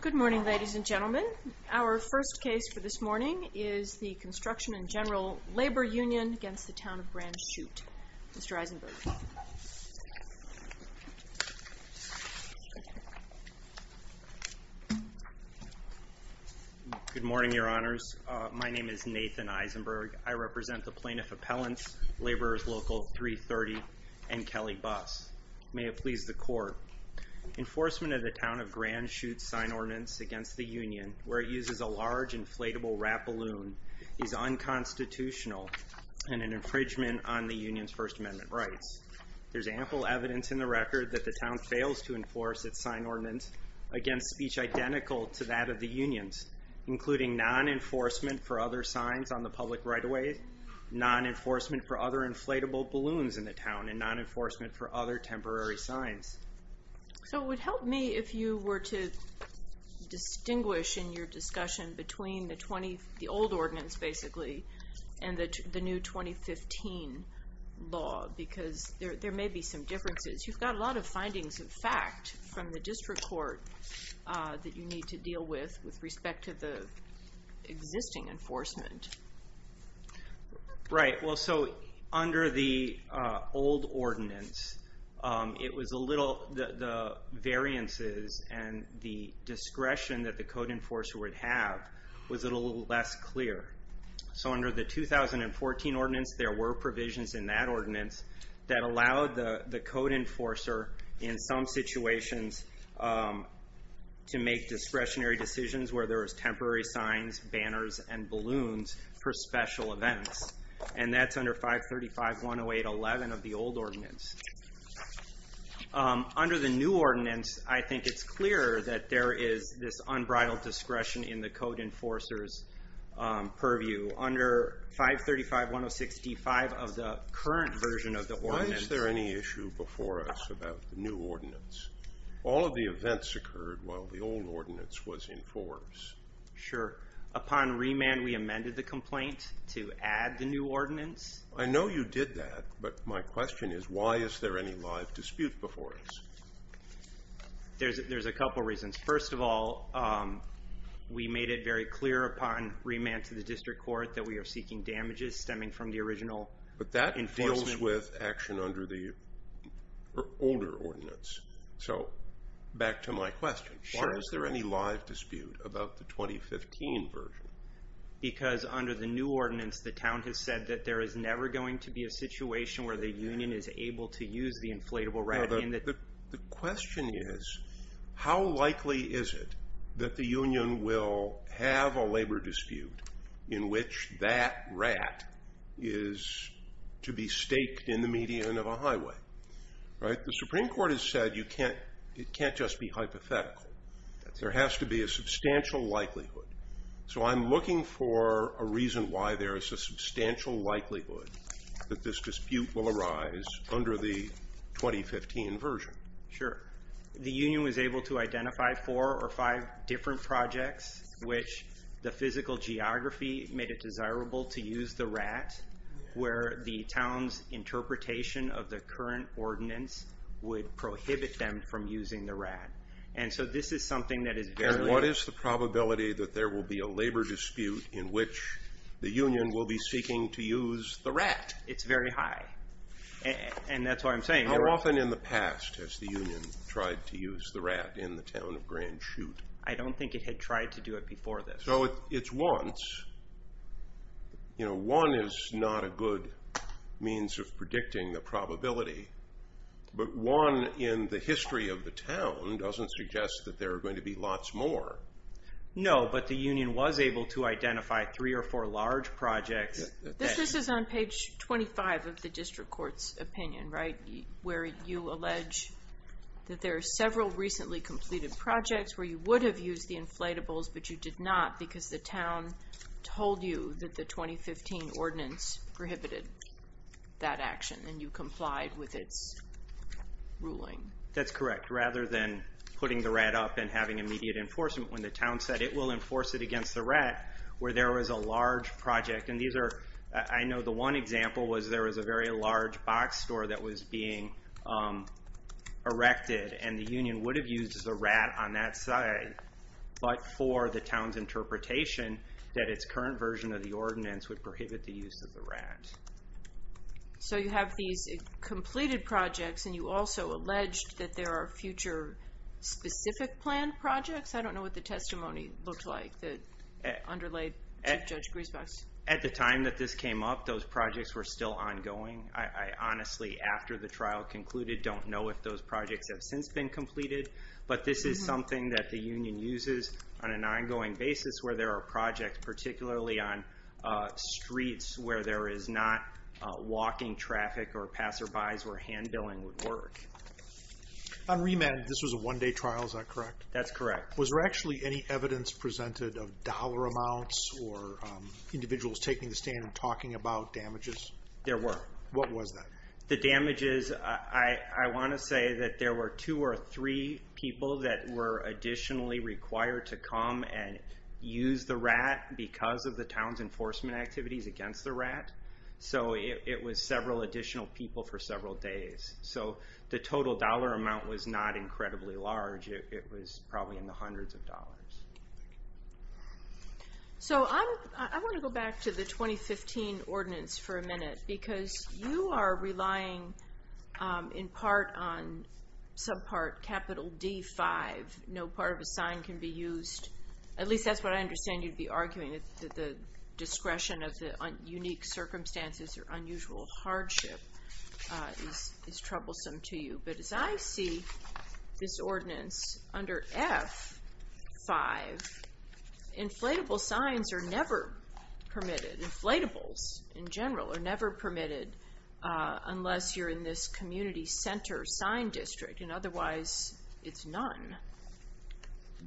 Good morning, ladies and gentlemen. Our first case for this morning is the Construction and General Labor Union v. Town of Grand Chute. Mr. Eisenberg. Good morning, Your Honors. My name is Nathan Eisenberg. I represent the Plaintiff Appellants, Laborers Local 330, and Kelly Bus. May it please the Court. Enforcement of the Town of Grand Chute's sign ordinance against the Union, where it uses a large inflatable wrap balloon, is unconstitutional and an infringement on the Union's First Amendment rights. There's ample evidence in the record that the Town fails to enforce its sign ordinance against speech identical to that of the Union's, including non-enforcement for other signs on the public right-of-way, non-enforcement for other inflatable balloons in the Town, and non-enforcement for other temporary signs. So it would help me if you were to distinguish in your discussion between the old ordinance, basically, and the new 2015 law, because there may be some differences. You've got a lot of findings of fact from the district court that you need to deal with, with respect to the existing enforcement. Right. Well, so under the old ordinance, it was a little, the variances and the discretion that the code enforcer would have was a little less clear. So under the 2014 ordinance, there were provisions in that ordinance that allowed the code enforcer, in some situations, to make discretionary decisions where there was temporary signs, banners, and balloons for special events. And that's under 535.108.11 of the old ordinance. Under the new ordinance, I think it's clear that there is this unbridled discretion in the code enforcer's purview. Under 535.106.D.5 of the current version of the ordinance... Why is there any issue before us about the new ordinance? All of the events occurred while the old ordinance was in force. Sure. Upon remand, we amended the complaint to add the new ordinance. I know you did that, but my question is, why is there any live dispute before us? There's a couple reasons. First of all, we made it very clear upon remand to the district court that we are seeking damages stemming from the original enforcement. But that deals with action under the older ordinance. So, back to my question. Sure. Why is there any live dispute about the 2015 version? Because under the new ordinance, the town has said that there is never going to be a situation where the union is able to use the inflatable rat. The question is, how likely is it that the union will have a labor dispute in which that rat is to be staked in the median of a highway? The Supreme Court has said it can't just be hypothetical. There has to be a substantial likelihood. So, I'm looking for a reason why there is a substantial likelihood that this dispute will arise under the 2015 version. Sure. The union was able to identify four or five different projects which the physical geography made it desirable to use the rat, where the town's interpretation of the current ordinance would prohibit them from using the rat. What is the probability that there will be a labor dispute in which the union will be seeking to use the rat? It's very high, and that's why I'm saying... How often in the past has the union tried to use the rat in the town of Grand Chute? I don't think it had tried to do it before this. So, it's once. One is not a good means of predicting the probability. But one in the history of the town doesn't suggest that there are going to be lots more. No, but the union was able to identify three or four large projects. This is on page 25 of the district court's opinion, right, where you allege that there are several recently completed projects where you would have used the inflatables, but you did not because the town told you that the 2015 ordinance prohibited that action, and you complied with its ruling. That's correct. Rather than putting the rat up and having immediate enforcement when the town said it will enforce it against the rat, where there was a large project, and these are... I know the one example was there was a very large box store that was being erected, and the union would have used the rat on that side, but for the town's interpretation that its current version of the ordinance would prohibit the use of the rat. So you have these completed projects, and you also alleged that there are future specific planned projects? I don't know what the testimony looked like that underlay Chief Judge Griesbeck. At the time that this came up, those projects were still ongoing. I honestly, after the trial concluded, don't know if those projects have since been completed, but this is something that the union uses on an ongoing basis where there are projects, and particularly on streets where there is not walking traffic or passerbys where hand billing would work. On remand, this was a one-day trial, is that correct? That's correct. Was there actually any evidence presented of dollar amounts or individuals taking the stand and talking about damages? There were. What was that? The damages, I want to say that there were two or three people that were additionally required to come and use the rat because of the town's enforcement activities against the rat. So it was several additional people for several days. So the total dollar amount was not incredibly large. It was probably in the hundreds of dollars. So I want to go back to the 2015 ordinance for a minute, because you are relying in part on subpart capital D-5. No part of a sign can be used. At least that's what I understand you'd be arguing, that the discretion of the unique circumstances or unusual hardship is troublesome to you. But as I see this ordinance under F-5, inflatable signs are never permitted. Inflatables in general are never permitted unless you're in this community center sign district, and otherwise it's none.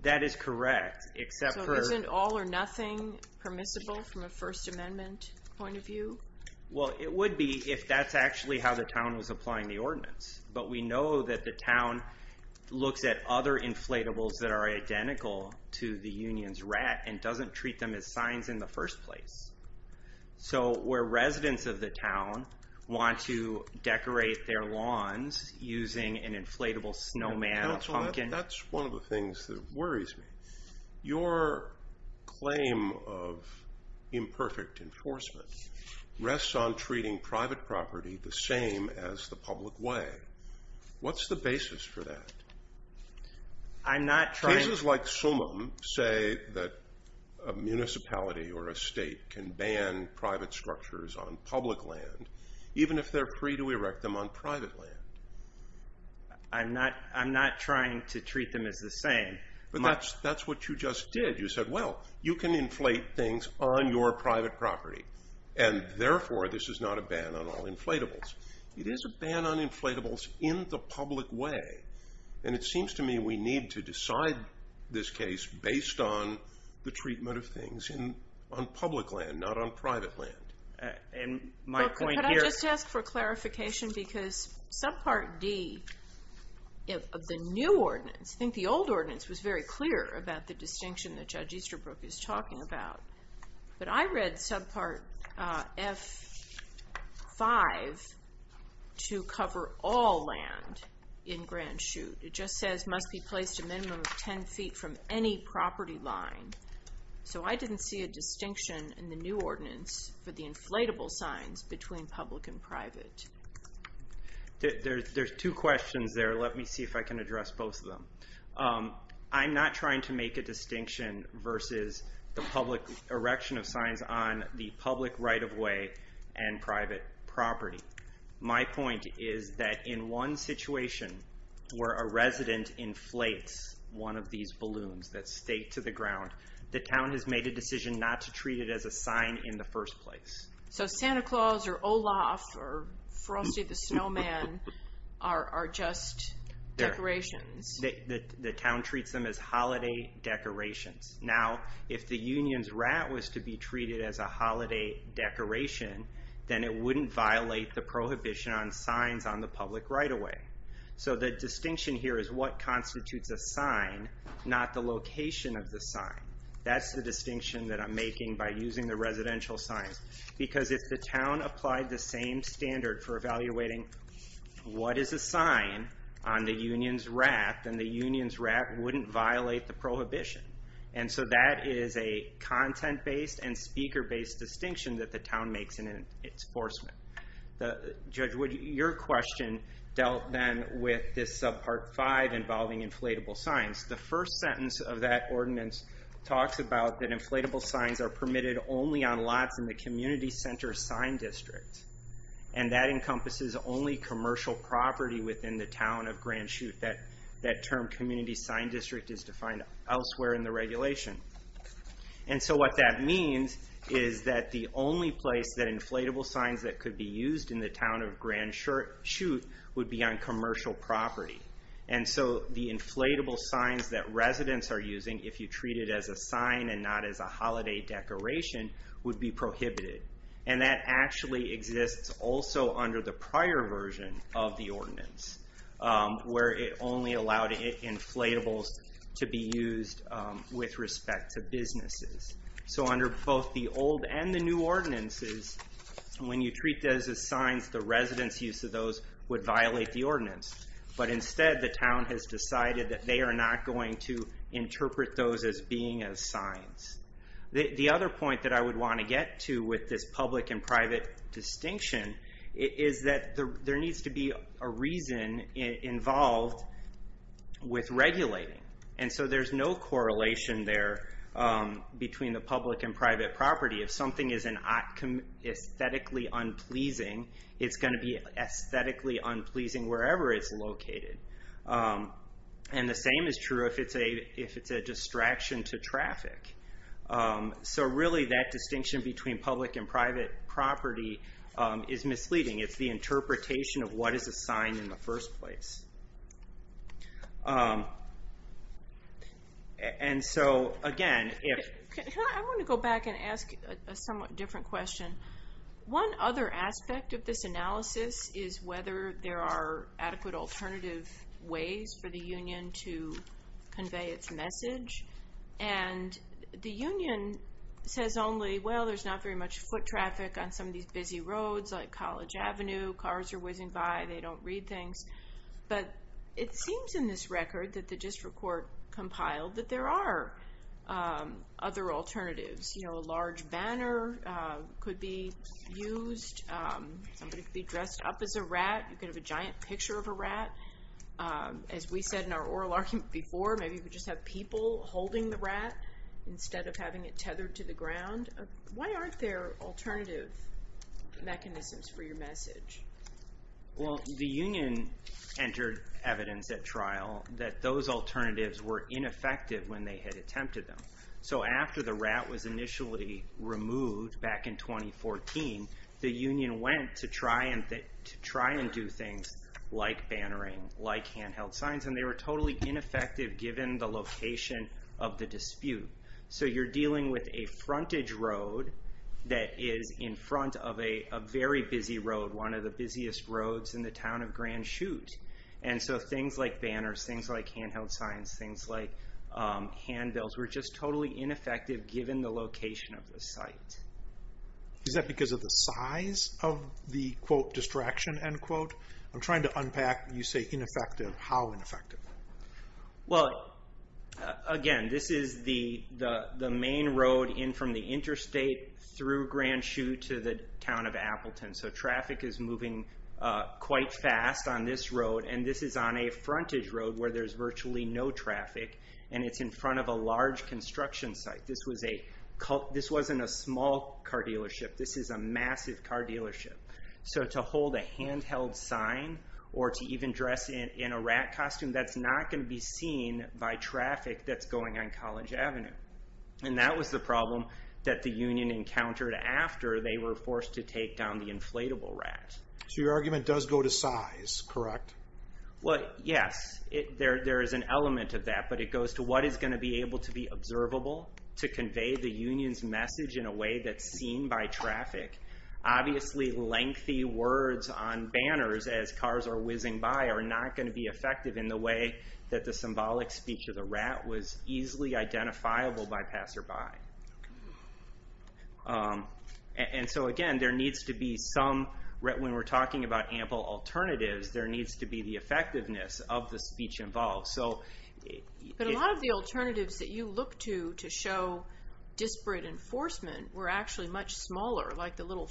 That is correct, except for- So isn't all or nothing permissible from a First Amendment point of view? Well, it would be if that's actually how the town was applying the ordinance. But we know that the town looks at other inflatables that are identical to the union's rat and doesn't treat them as signs in the first place. So where residents of the town want to decorate their lawns using an inflatable snowman or pumpkin- Councilman, that's one of the things that worries me. Your claim of imperfect enforcement rests on treating private property the same as the public way. What's the basis for that? I'm not trying- Say that a municipality or a state can ban private structures on public land, even if they're free to erect them on private land. I'm not trying to treat them as the same. But that's what you just did. You said, well, you can inflate things on your private property, and therefore this is not a ban on all inflatables. It is a ban on inflatables in the public way, and it seems to me we need to decide this case based on the treatment of things on public land, not on private land. And my point here- Could I just ask for clarification? Because Subpart D of the new ordinance, I think the old ordinance was very clear about the distinction that Judge Easterbrook is talking about. But I read Subpart F5 to cover all land in Grand Chute. It just says, must be placed a minimum of 10 feet from any property line. So I didn't see a distinction in the new ordinance for the inflatable signs between public and private. There's two questions there. Let me see if I can address both of them. I'm not trying to make a distinction versus the public erection of signs on the public right-of-way and private property. My point is that in one situation where a resident inflates one of these balloons that stay to the ground, the town has made a decision not to treat it as a sign in the first place. So Santa Claus or Olaf or Frosty the Snowman are just decorations? The town treats them as holiday decorations. Now, if the union's rat was to be treated as a holiday decoration, then it wouldn't violate the prohibition on signs on the public right-of-way. So the distinction here is what constitutes a sign, not the location of the sign. That's the distinction that I'm making by using the residential signs. Because if the town applied the same standard for evaluating what is a sign on the union's rat, then the union's rat wouldn't violate the prohibition. And so that is a content-based and speaker-based distinction that the town makes in its enforcement. Judge Wood, your question dealt then with this Subpart 5 involving inflatable signs. The first sentence of that ordinance talks about that inflatable signs are permitted only on lots in the community center sign district. And that encompasses only commercial property within the town of Grand Chute. That term, community sign district, is defined elsewhere in the regulation. And so what that means is that the only place that inflatable signs that could be used in the town of Grand Chute would be on commercial property. And so the inflatable signs that residents are using, if you treat it as a sign and not as a holiday decoration, would be prohibited. And that actually exists also under the prior version of the ordinance, where it only allowed inflatables to be used with respect to businesses. So under both the old and the new ordinances, when you treat those as signs, the residents' use of those would violate the ordinance. But instead, the town has decided that they are not going to interpret those as being as signs. The other point that I would want to get to with this public and private distinction is that there needs to be a reason involved with regulating. And so there's no correlation there between the public and private property. If something is aesthetically unpleasing, it's going to be aesthetically unpleasing wherever it's located. And the same is true if it's a distraction to traffic. So really, that distinction between public and private property is misleading. It's the interpretation of what is a sign in the first place. And so, again, if... I want to go back and ask a somewhat different question. One other aspect of this analysis is whether there are adequate alternative ways for the union to convey its message. And the union says only, well, there's not very much foot traffic on some of these busy roads like College Avenue. Cars are whizzing by. They don't read things. But it seems in this record that the district court compiled that there are other alternatives. You know, a large banner could be used. Somebody could be dressed up as a rat. You could have a giant picture of a rat. As we said in our oral argument before, maybe you could just have people holding the rat instead of having it tethered to the ground. Why aren't there alternative mechanisms for your message? Well, the union entered evidence at trial that those alternatives were ineffective when they had attempted them. So after the rat was initially removed back in 2014, the union went to try and do things like bannering, like handheld signs. And they were totally ineffective given the location of the dispute. So you're dealing with a frontage road that is in front of a very busy road, one of the busiest roads in the town of Grand Chute. And so things like banners, things like handheld signs, things like handbills were just totally ineffective given the location of the site. Is that because of the size of the, quote, distraction, end quote? I'm trying to unpack when you say ineffective. How ineffective? Well, again, this is the main road in from the interstate through Grand Chute to the town of Appleton. So traffic is moving quite fast on this road. And this is on a frontage road where there's virtually no traffic. And it's in front of a large construction site. This wasn't a small car dealership. This is a massive car dealership. So to hold a handheld sign or to even dress in a rat costume, that's not going to be seen by traffic that's going on College Avenue. And that was the problem that the union encountered after they were forced to take down the inflatable rat. So your argument does go to size, correct? Well, yes, there is an element of that. But it goes to what is going to be able to be observable to convey the union's message in a way that's seen by traffic. Obviously, lengthy words on banners as cars are whizzing by are not going to be effective in the way that the symbolic speech of the rat was easily identifiable by passerby. And so, again, there needs to be some, when we're talking about ample alternatives, there needs to be the effectiveness of the speech involved. But a lot of the alternatives that you look to to show disparate enforcement were actually much smaller, like the little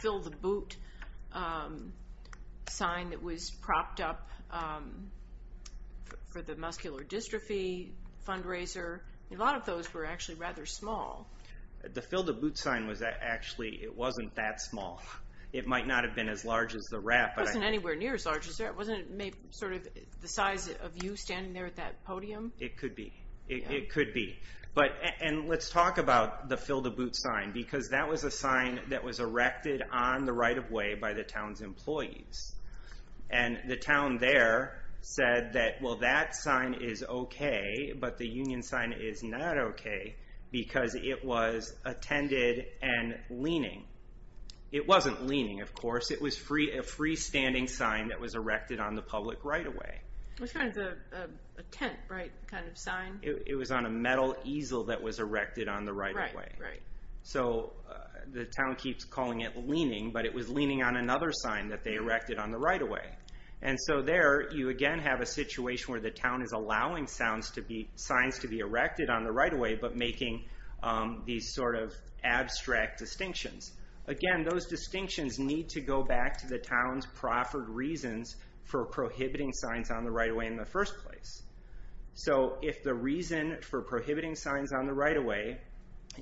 fill the boot sign that was propped up for the muscular dystrophy fundraiser. A lot of those were actually rather small. The fill the boot sign was actually, it wasn't that small. It might not have been as large as the rat. It wasn't anywhere near as large as the rat. Wasn't it sort of the size of you standing there at that podium? It could be. It could be. And let's talk about the fill the boot sign, because that was a sign that was erected on the right of way by the town's employees. And the town there said that, well, that sign is okay, but the union sign is not okay, because it was attended and leaning. It wasn't leaning, of course. It was a freestanding sign that was erected on the public right of way. Which kind of a tent, right, kind of sign? It was on a metal easel that was erected on the right of way. Right, right. So the town keeps calling it leaning, but it was leaning on another sign that they erected on the right of way. And so there, you again have a situation where the town is allowing signs to be erected on the right of way, but making these sort of abstract distinctions. Again, those distinctions need to go back to the town's proffered reasons for prohibiting signs on the right of way in the first place. So if the reason for prohibiting signs on the right of way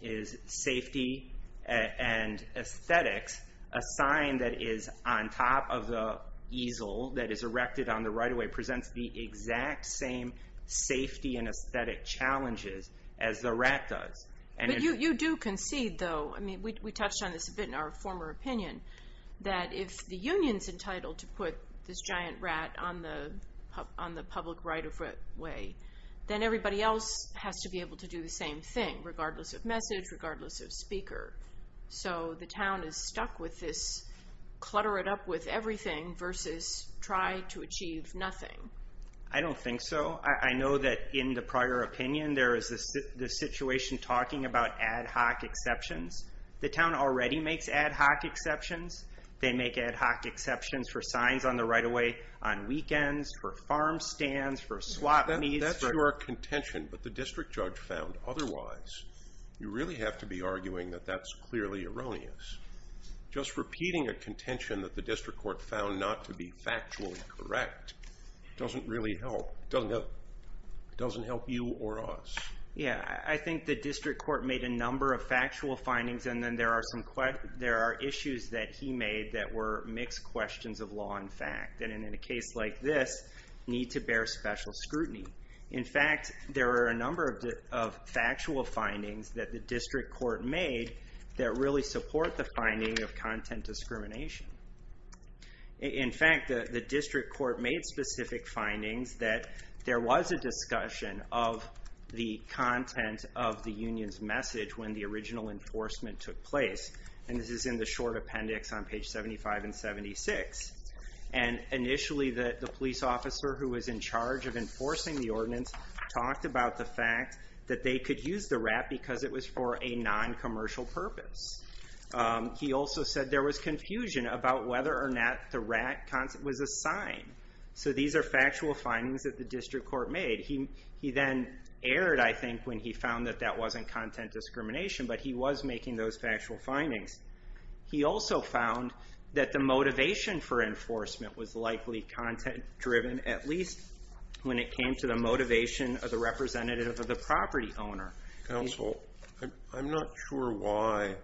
is safety and aesthetics, a sign that is on top of the easel that is erected on the right of way presents the exact same safety and aesthetic challenges as the rat does. But you do concede, though, I mean, we touched on this a bit in our former opinion, that if the union's entitled to put this giant rat on the public right of way, then everybody else has to be able to do the same thing, regardless of message, regardless of speaker. So the town is stuck with this clutter it up with everything versus try to achieve nothing. I don't think so. I know that in the prior opinion, there is this situation talking about ad hoc exceptions. The town already makes ad hoc exceptions. They make ad hoc exceptions for signs on the right of way on weekends, for farm stands, for swap meets. That's your contention, but the district judge found otherwise. You really have to be arguing that that's clearly erroneous. Just repeating a contention that the district court found not to be factually correct doesn't really help. It doesn't help you or us. Yeah, I think the district court made a number of factual findings, and then there are issues that he made that were mixed questions of law and fact, and in a case like this, need to bear special scrutiny. In fact, there are a number of factual findings that the district court made that really support the finding of content discrimination. In fact, the district court made specific findings that there was a discussion of the content of the union's message when the original enforcement took place, and this is in the short appendix on page 75 and 76. Initially, the police officer who was in charge of enforcing the ordinance talked about the fact that they could use the rat because it was for a non-commercial purpose. He also said there was confusion about whether or not the rat was a sign. These are factual findings that the district court made. He then erred, I think, when he found that that wasn't content discrimination, but he was making those factual findings. He also found that the motivation for enforcement was likely content-driven, at least when it came to the motivation of the representative of the property owner. Counsel, I'm not sure why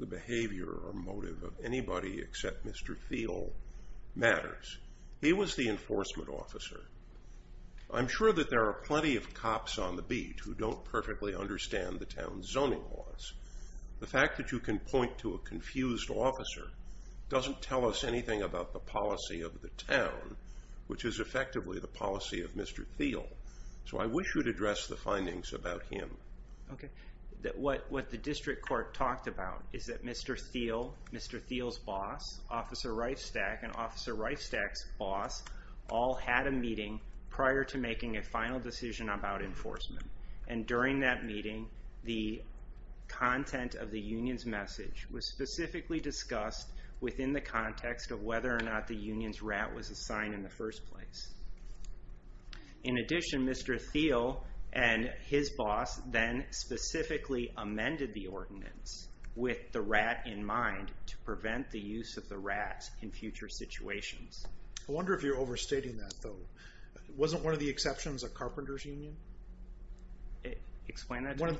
the behavior or motive of anybody except Mr. Thiele matters. He was the enforcement officer. I'm sure that there are plenty of cops on the beat who don't perfectly understand the town's zoning laws. The fact that you can point to a confused officer doesn't tell us anything about the policy of the town, which is effectively the policy of Mr. Thiele, so I wish you'd address the findings about him. Okay. What the district court talked about is that Mr. Thiele, Mr. Thiele's boss, Officer Reifstack, and Officer Reifstack's boss, all had a meeting prior to making a final decision about enforcement, and during that meeting the content of the union's message was specifically discussed within the context of whether or not the union's rat was assigned in the first place. In addition, Mr. Thiele and his boss then specifically amended the ordinance with the rat in mind to prevent the use of the rat in future situations. I wonder if you're overstating that, though. Wasn't one of the exceptions a carpenters' union? Explain that to me.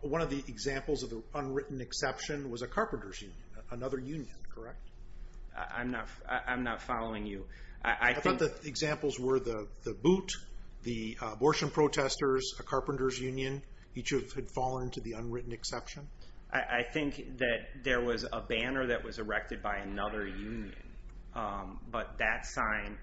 One of the examples of the unwritten exception was a carpenters' union, another union, correct? I'm not following you. I thought the examples were the boot, the abortion protesters, a carpenters' union. Each of them had fallen to the unwritten exception. I think that there was a banner that was erected by another union, but that sign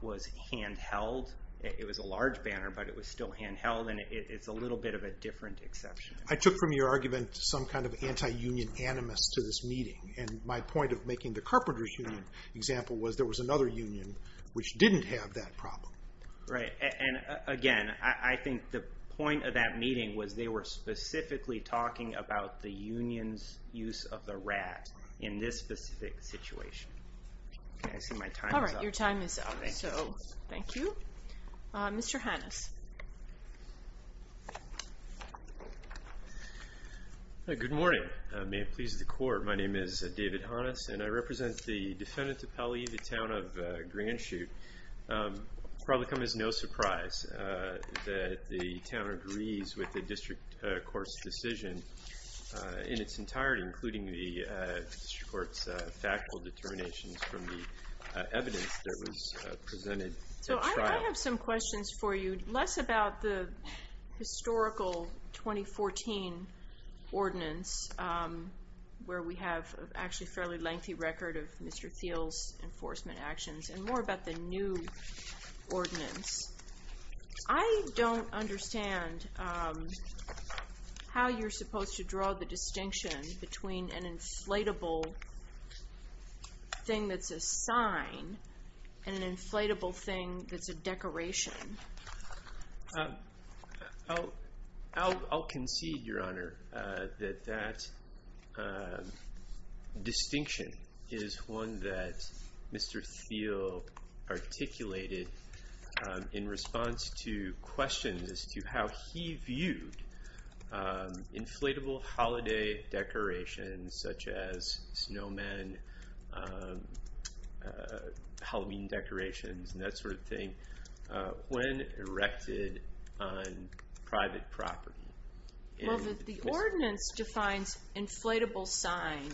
was handheld. It was a large banner, but it was still handheld, and it's a little bit of a different exception. I took from your argument some kind of anti-union animus to this meeting, and my point of making the carpenters' union example was there was another union which didn't have that problem. Right, and again, I think the point of that meeting was they were specifically talking about the union's use of the rat in this specific situation. Okay, so my time is up. All right, your time is up, so thank you. Mr. Hannes. Good morning. May it please the Court, my name is David Hannes, and I represent the defendant appellee, the town of Grand Chute. It will probably come as no surprise that the town agrees with the district court's decision in its entirety, including the district court's factual determinations from the evidence that was presented at trial. So I have some questions for you, less about the historical 2014 ordinance, where we have actually a fairly lengthy record of Mr. Thiel's enforcement actions, and more about the new ordinance. I don't understand how you're supposed to draw the distinction between an inflatable thing that's a sign and an inflatable thing that's a decoration. That distinction is one that Mr. Thiel articulated in response to questions as to how he viewed inflatable holiday decorations, such as snowmen, Halloween decorations, and that sort of thing, when erected on private property. Well, the ordinance defines inflatable sign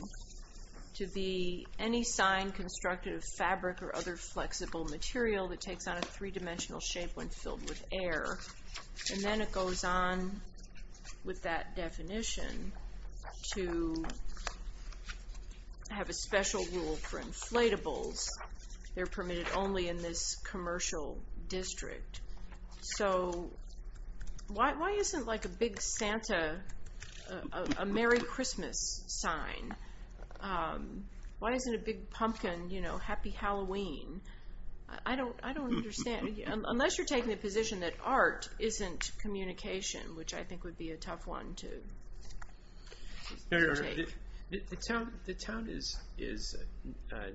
to be any sign constructed of fabric or other flexible material that takes on a three-dimensional shape when filled with air. And then it goes on with that definition to have a special rule for inflatables. They're permitted only in this commercial district. So why isn't, like, a big Santa a Merry Christmas sign? Why isn't a big pumpkin, you know, Happy Halloween? I don't understand. Unless you're taking the position that art isn't communication, which I think would be a tough one to take. The town is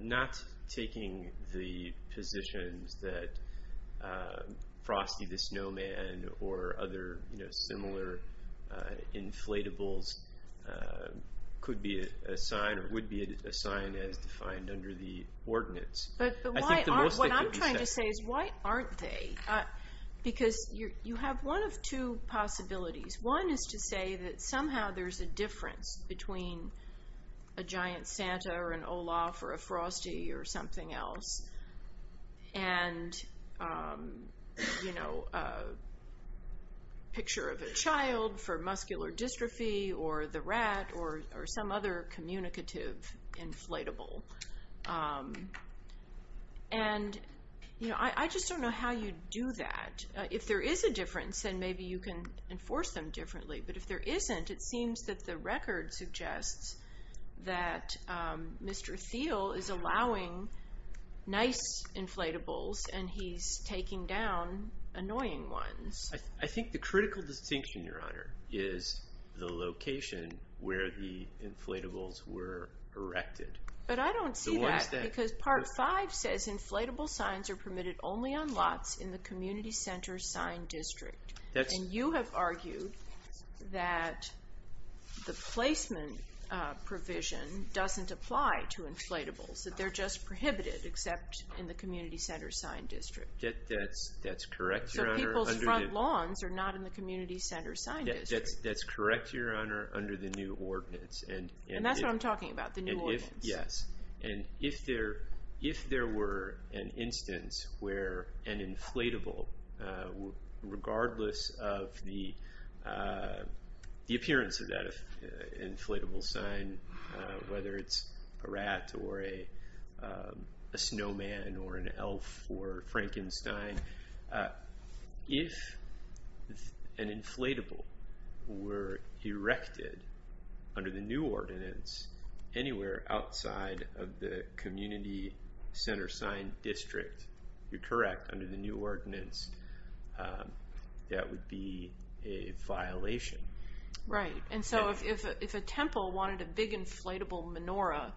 not taking the positions that Frosty the Snowman or other similar inflatables could be a sign or would be a sign as defined under the ordinance. But what I'm trying to say is why aren't they? Because you have one of two possibilities. One is to say that somehow there's a difference between a giant Santa or an Olaf or a Frosty or something else and, you know, a picture of a child for muscular dystrophy or the rat or some other communicative inflatable. And, you know, I just don't know how you do that. If there is a difference, then maybe you can enforce them differently. But if there isn't, it seems that the record suggests that Mr. Thiel is allowing nice inflatables and he's taking down annoying ones. I think the critical distinction, Your Honor, is the location where the inflatables were erected. But I don't see that because Part 5 says inflatable signs are permitted only on lots in the community center sign district. And you have argued that the placement provision doesn't apply to inflatables, that they're just prohibited except in the community center sign district. That's correct, Your Honor. So people's front lawns are not in the community center sign district. That's correct, Your Honor, under the new ordinance. And that's what I'm talking about, the new ordinance. Yes. And if there were an instance where an inflatable, regardless of the appearance of that inflatable sign, whether it's a rat or a snowman or an elf or Frankenstein, if an inflatable were erected under the new ordinance anywhere outside of the community center sign district, you're correct, under the new ordinance, that would be a violation. Right. And so if a temple wanted a big inflatable menorah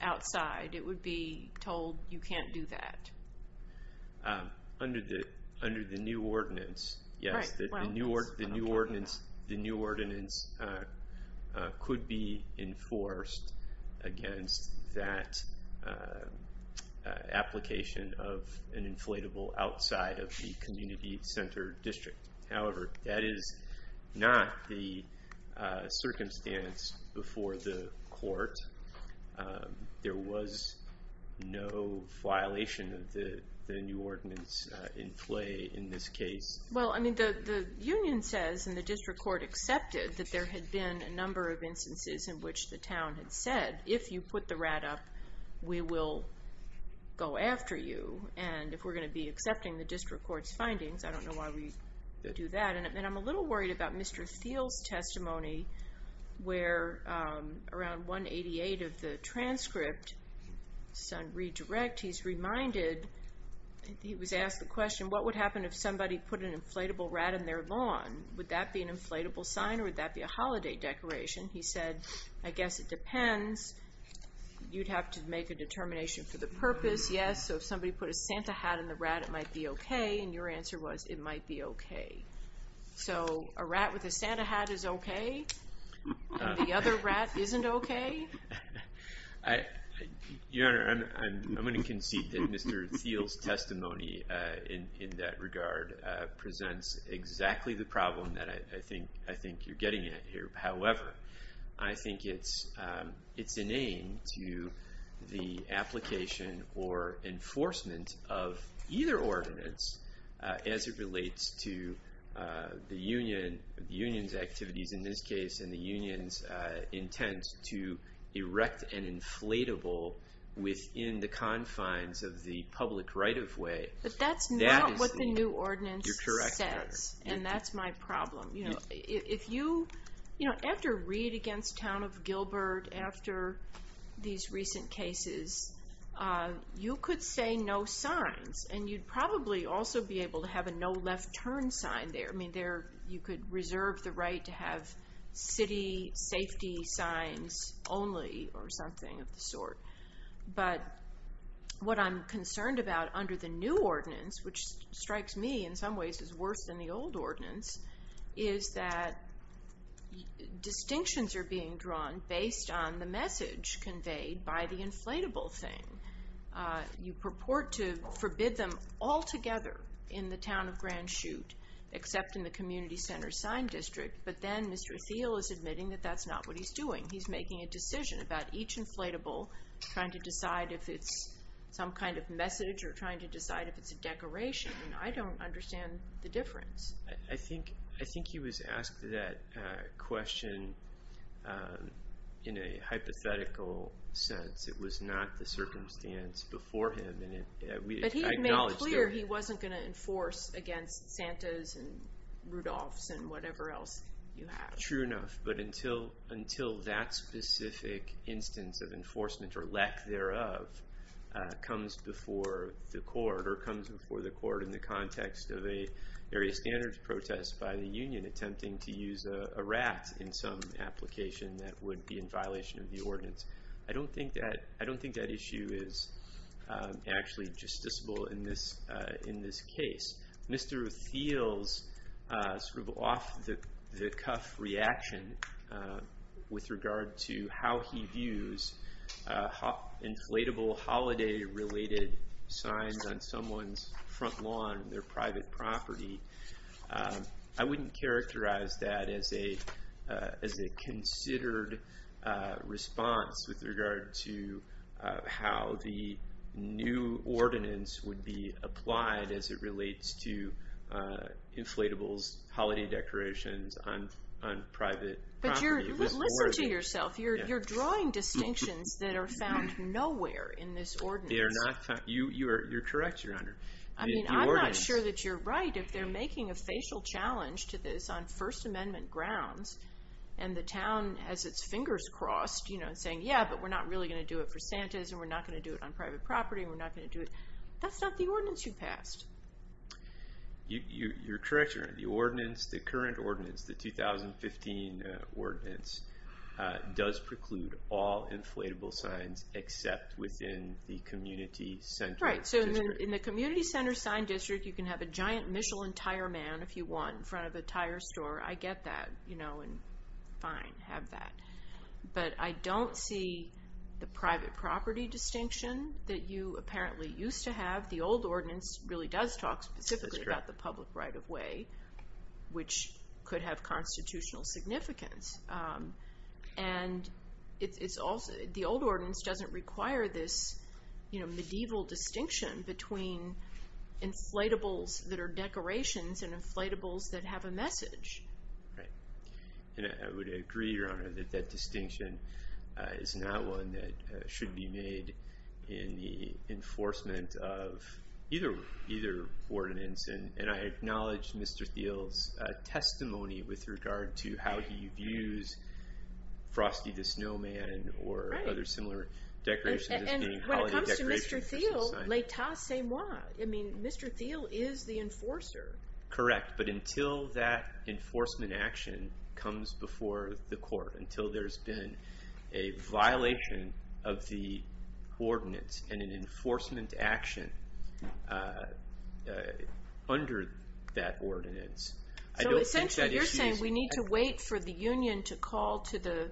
outside, it would be told you can't do that. Under the new ordinance, yes. The new ordinance could be enforced against that application of an inflatable outside of the community center district. However, that is not the circumstance before the court. There was no violation of the new ordinance in play in this case. Well, I mean, the union says, and the district court accepted, that there had been a number of instances in which the town had said, if you put the rat up, we will go after you. And if we're going to be accepting the district court's findings, I don't know why we would do that. And I'm a little worried about Mr. Thiel's testimony, where around 188 of the transcript, son redirect, he's reminded, he was asked the question, what would happen if somebody put an inflatable rat in their lawn? Would that be an inflatable sign, or would that be a holiday decoration? He said, I guess it depends. You'd have to make a determination for the purpose, yes. So if somebody put a Santa hat in the rat, it might be okay. And your answer was, it might be okay. So a rat with a Santa hat is okay, and the other rat isn't okay? Your Honor, I'm going to concede that Mr. Thiel's testimony in that regard presents exactly the problem that I think you're getting at here. However, I think it's inane to the application or enforcement of either ordinance as it relates to the union's activities in this case, and the union's intent to erect an inflatable within the confines of the public right-of-way. But that's not what the new ordinance says. You're correct, Your Honor. And that's my problem. You know, if you, you know, after Reid against Town of Gilbert, after these recent cases, you could say no signs, and you'd probably also be able to have a no left turn sign there. I mean, you could reserve the right to have city safety signs only or something of the sort. But what I'm concerned about under the new ordinance, which strikes me in some ways as worse than the old ordinance, is that distinctions are being drawn based on the message conveyed by the inflatable thing. You purport to forbid them altogether in the town of Grand Chute, except in the community center sign district. But then Mr. Thiel is admitting that that's not what he's doing. He's making a decision about each inflatable, trying to decide if it's some kind of message or trying to decide if it's a decoration. I don't understand the difference. I think he was asked that question in a hypothetical sense. It was not the circumstance before him. But he had made clear he wasn't going to enforce against Santa's and Rudolph's and whatever else you have. True enough. But until that specific instance of enforcement or lack thereof comes before the court or comes before the court in the context of an area standards protest by the union attempting to use a rat in some application that would be in violation of the ordinance. I don't think that issue is actually justiciable in this case. Mr. Thiel's sort of off-the-cuff reaction with regard to how he views inflatable holiday-related signs on someone's front lawn on their private property, I wouldn't characterize that as a considered response with regard to how the new ordinance would be applied as it relates to inflatables, holiday decorations on private property. But listen to yourself. You're drawing distinctions that are found nowhere in this ordinance. You're correct, Your Honor. I mean, I'm not sure that you're right. If they're making a facial challenge to this on First Amendment grounds and the town has its fingers crossed, you know, saying, yeah, but we're not really going to do it for Santa's and we're not going to do it on private property and we're not going to do it, that's not the ordinance you passed. Your correction, Your Honor, the ordinance, the current ordinance, the 2015 ordinance, All right, so in the community center sign district, you can have a giant Michelin tire man, if you want, in front of a tire store, I get that, you know, and fine, have that. But I don't see the private property distinction that you apparently used to have. The old ordinance really does talk specifically about the public right-of-way, which could have constitutional significance. And the old ordinance doesn't require this medieval distinction between inflatables that are decorations and inflatables that have a message. Right. And I would agree, Your Honor, that that distinction is not one that should be made in the enforcement of either ordinance. And I acknowledge Mr. Thiel's testimony with regard to how he views Frosty the Snowman or other similar decorations as being holiday decorations. And when it comes to Mr. Thiel, les tassez-moi. I mean, Mr. Thiel is the enforcer. Correct, but until that enforcement action comes before the court, until there's been a violation of the ordinance and an enforcement action under that ordinance, I don't think that issue is... So essentially you're saying we need to wait for the union to call to the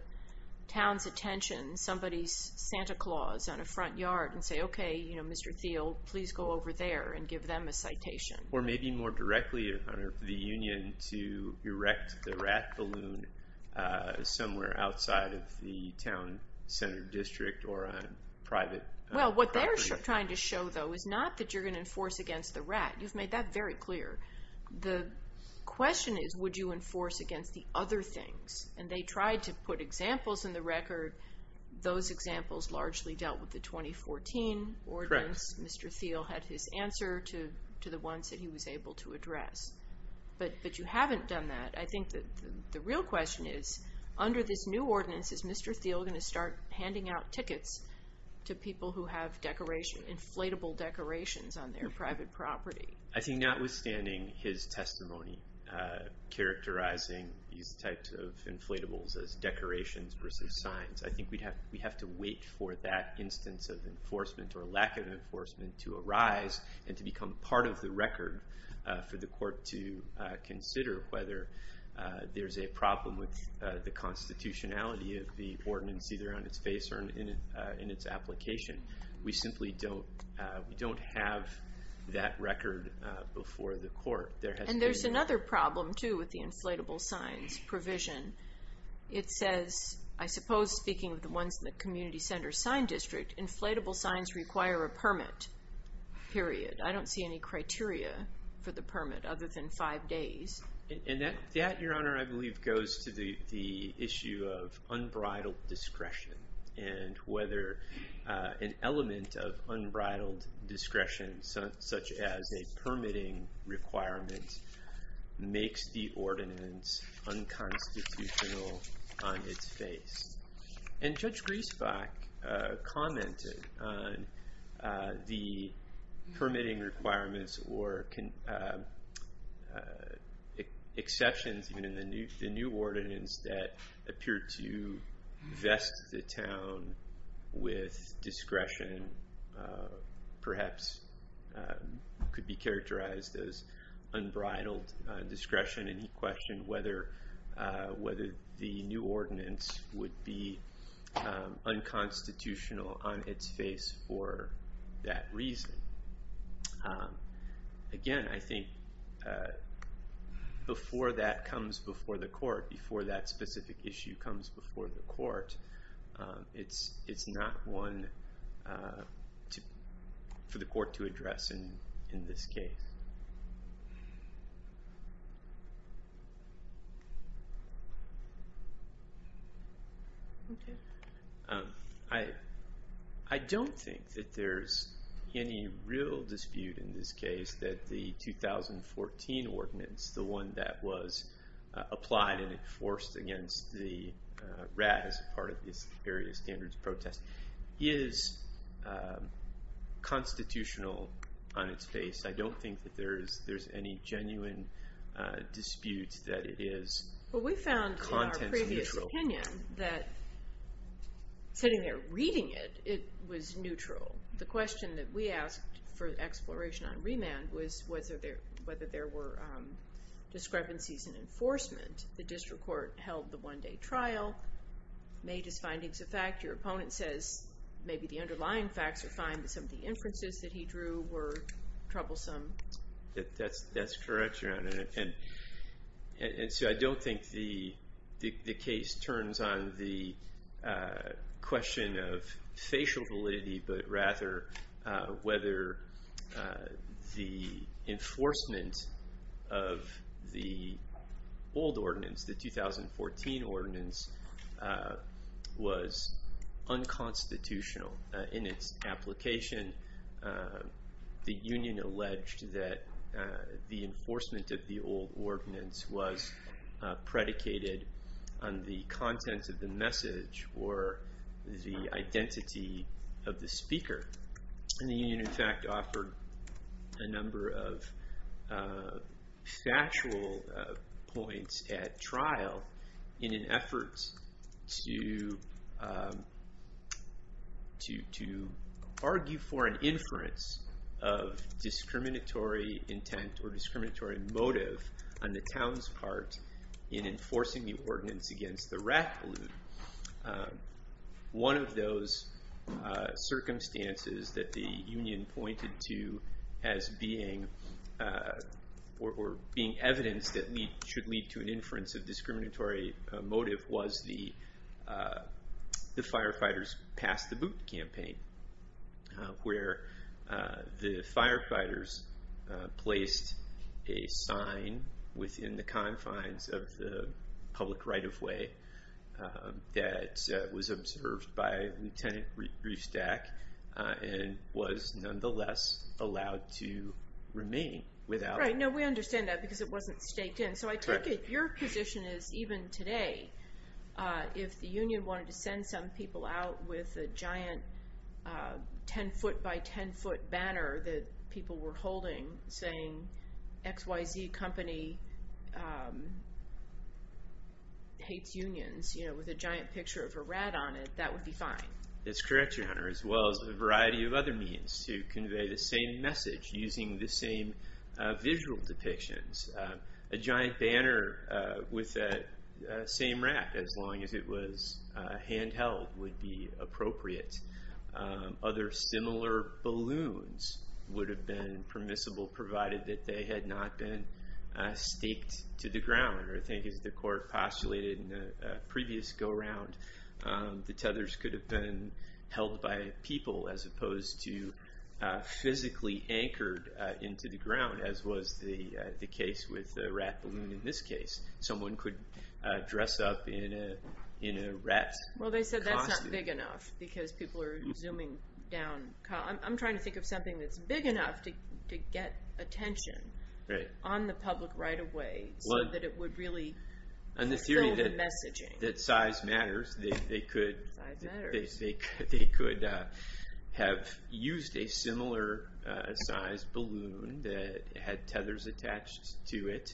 town's attention somebody's Santa Claus on a front yard and say, okay, you know, Mr. Thiel, please go over there and give them a citation. Or maybe more directly, Your Honor, for the union to erect the rat balloon somewhere outside of the town center district or on private property. What you're trying to show, though, is not that you're going to enforce against the rat. You've made that very clear. The question is, would you enforce against the other things? And they tried to put examples in the record. Those examples largely dealt with the 2014 ordinance. Mr. Thiel had his answer to the ones that he was able to address. But you haven't done that. I think that the real question is, under this new ordinance, is Mr. Thiel going to start handing out tickets to people who have inflatable decorations on their private property? I think notwithstanding his testimony characterizing these types of inflatables as decorations versus signs, I think we have to wait for that instance of enforcement or lack of enforcement to arise and to become part of the record for the court to consider whether there's a problem with the constitutionality of the ordinance, either on its face or in its application. We simply don't have that record before the court. And there's another problem, too, with the inflatable signs provision. It says, I suppose speaking of the ones in the community center sign district, inflatable signs require a permit, period. I don't see any criteria for the permit other than five days. And that, Your Honor, I believe goes to the issue of unbridled discretion and whether an element of unbridled discretion, such as a permitting requirement, makes the ordinance unconstitutional on its face. And Judge Griesbach commented on the permitting requirements or exceptions, even in the new ordinance, that appear to vest the town with discretion, perhaps could be characterized as unbridled discretion, and he questioned whether the new ordinance would be unconstitutional on its face for that reason. Again, I think before that comes before the court, before that specific issue comes before the court, it's not one for the court to address in this case. I don't think that there's any real dispute in this case that the 2014 ordinance, the one that was applied and enforced against the WRAD as part of this various standards protest, is constitutional on its face. I don't think that there's any genuine dispute that it is contents neutral. Well, we found in our previous opinion that sitting there reading it, it was neutral. The question that we asked for exploration on remand was whether there were discrepancies in enforcement. The district court held the one-day trial, made its findings a fact. Your opponent says maybe the underlying facts are fine, but some of the inferences that he drew were troublesome. That's correct, Your Honor. And so I don't think the case turns on the question of facial validity, but rather whether the enforcement of the old ordinance, the 2014 ordinance, was unconstitutional in its application. The union alleged that the enforcement of the old ordinance was predicated on the contents of the message or the identity of the speaker. And the union, in fact, offered a number of factual points at trial in an effort to argue for an inference of discriminatory intent or discriminatory motive on the town's part in enforcing the ordinance against the rat balloon. One of those circumstances that the union pointed to as being evidence that should lead to an inference of discriminatory motive was the sign within the confines of the public right-of-way that was observed by Lieutenant Riefstack and was nonetheless allowed to remain without. Right. No, we understand that because it wasn't staked in. So I take it your position is, even today, if the union wanted to send some people out with a giant 10-foot-by-10-foot balloon saying XYZ company hates unions with a giant picture of a rat on it, that would be fine. That's correct, Your Honor, as well as a variety of other means to convey the same message using the same visual depictions. A giant banner with that same rat, as long as it was handheld, would be appropriate. Other similar balloons would have been permissible, provided that they had not been staked to the ground. I think, as the Court postulated in the previous go-around, the tethers could have been held by people as opposed to physically anchored into the ground, as was the case with the rat balloon in this case. Someone could dress up in a rat costume. Well, they said that's not big enough because people are zooming down. I'm trying to think of something that's big enough to get attention on the public right away so that it would really fulfill the messaging. On the theory that size matters, they could have used a similar-sized balloon that had tethers attached to it,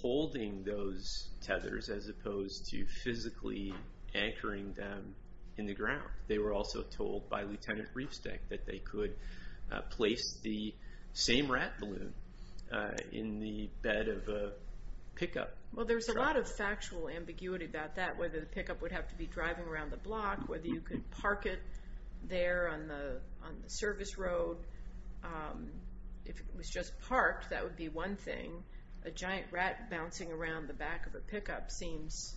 holding those tethers as opposed to physically anchoring them in the ground. They were also told by Lieutenant Riefsteck that they could place the same rat balloon in the bed of a pickup truck. Well, there's a lot of factual ambiguity about that, whether the pickup would have to be driving around the block, whether you could park it there on the service road. If it was just parked, that would be one thing. A giant rat bouncing around the back of a pickup seems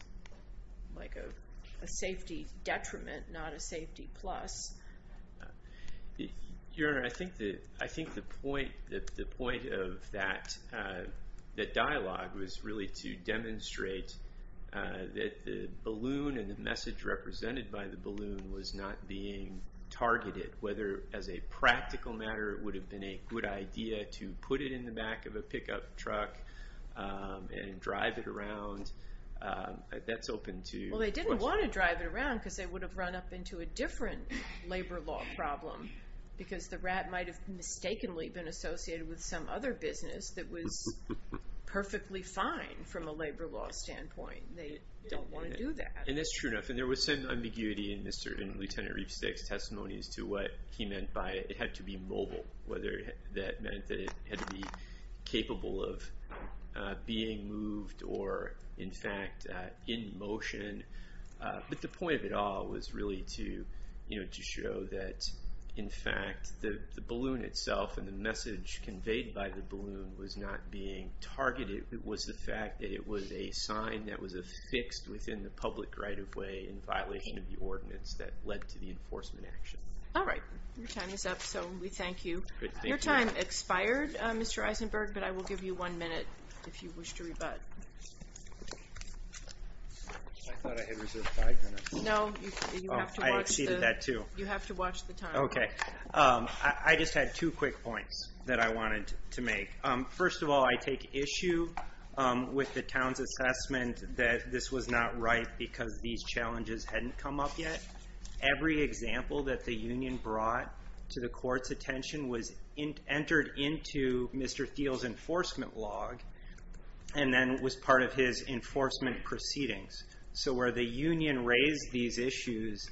like a safety detriment, not a safety plus. Your Honor, I think the point of that dialogue was really to demonstrate that the balloon and the message represented by the balloon was not being targeted, whether as a practical matter it would have been a good idea to put it in the back of a pickup truck and drive it around. That's open to questions. Well, they didn't want to drive it around because they would have run up into a different labor law problem because the rat might have mistakenly been associated with some other business that was perfectly fine from a labor law standpoint. They don't want to do that. That's true enough. There was some ambiguity in Lieutenant Riefsteck's testimonies to what he meant by it had to be mobile, whether that meant that it had to be capable of being moved or, in fact, in motion. But the point of it all was really to show that, in fact, the balloon itself and the message conveyed by the balloon was not being targeted. It was the fact that it was a sign that was affixed within the public right-of-way in violation of the ordinance that led to the enforcement action. All right. Your time is up, so we thank you. Your time expired, Mr. Eisenberg, but I will give you one minute if you wish to rebut. I thought I had reserved five minutes. No, you have to watch the time. I exceeded that, too. You have to watch the time. Okay. I just had two quick points that I wanted to make. First of all, I take issue with the town's assessment that this was not right because these challenges hadn't come up yet. Every example that the union brought to the court's attention was entered into Mr. Thiel's enforcement log and then was part of his enforcement proceedings. So where the union raised these issues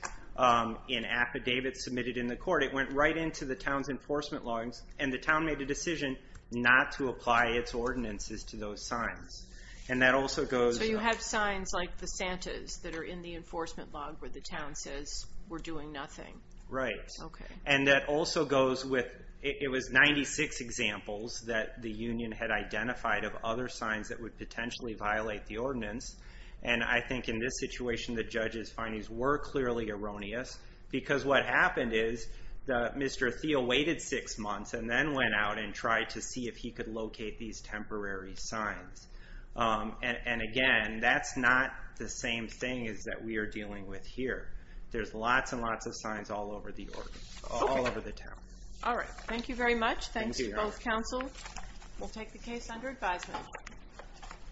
in affidavits submitted in the court, it went right into the town's enforcement logs, and the town made a decision not to apply its ordinances to those signs. So you have signs like the Santa's that are in the enforcement log where the town says we're doing nothing. Right. Okay. And that also goes with it was 96 examples that the union had identified of other signs that would potentially violate the ordinance, and I think in this situation the judge's findings were clearly erroneous because what happened is Mr. Thiel waited six months and then went out and tried to see if he could locate these temporary signs. And again, that's not the same thing as that we are dealing with here. There's lots and lots of signs all over the town. All right. Thank you very much. Thanks to both counsel. We'll take the case under advisement.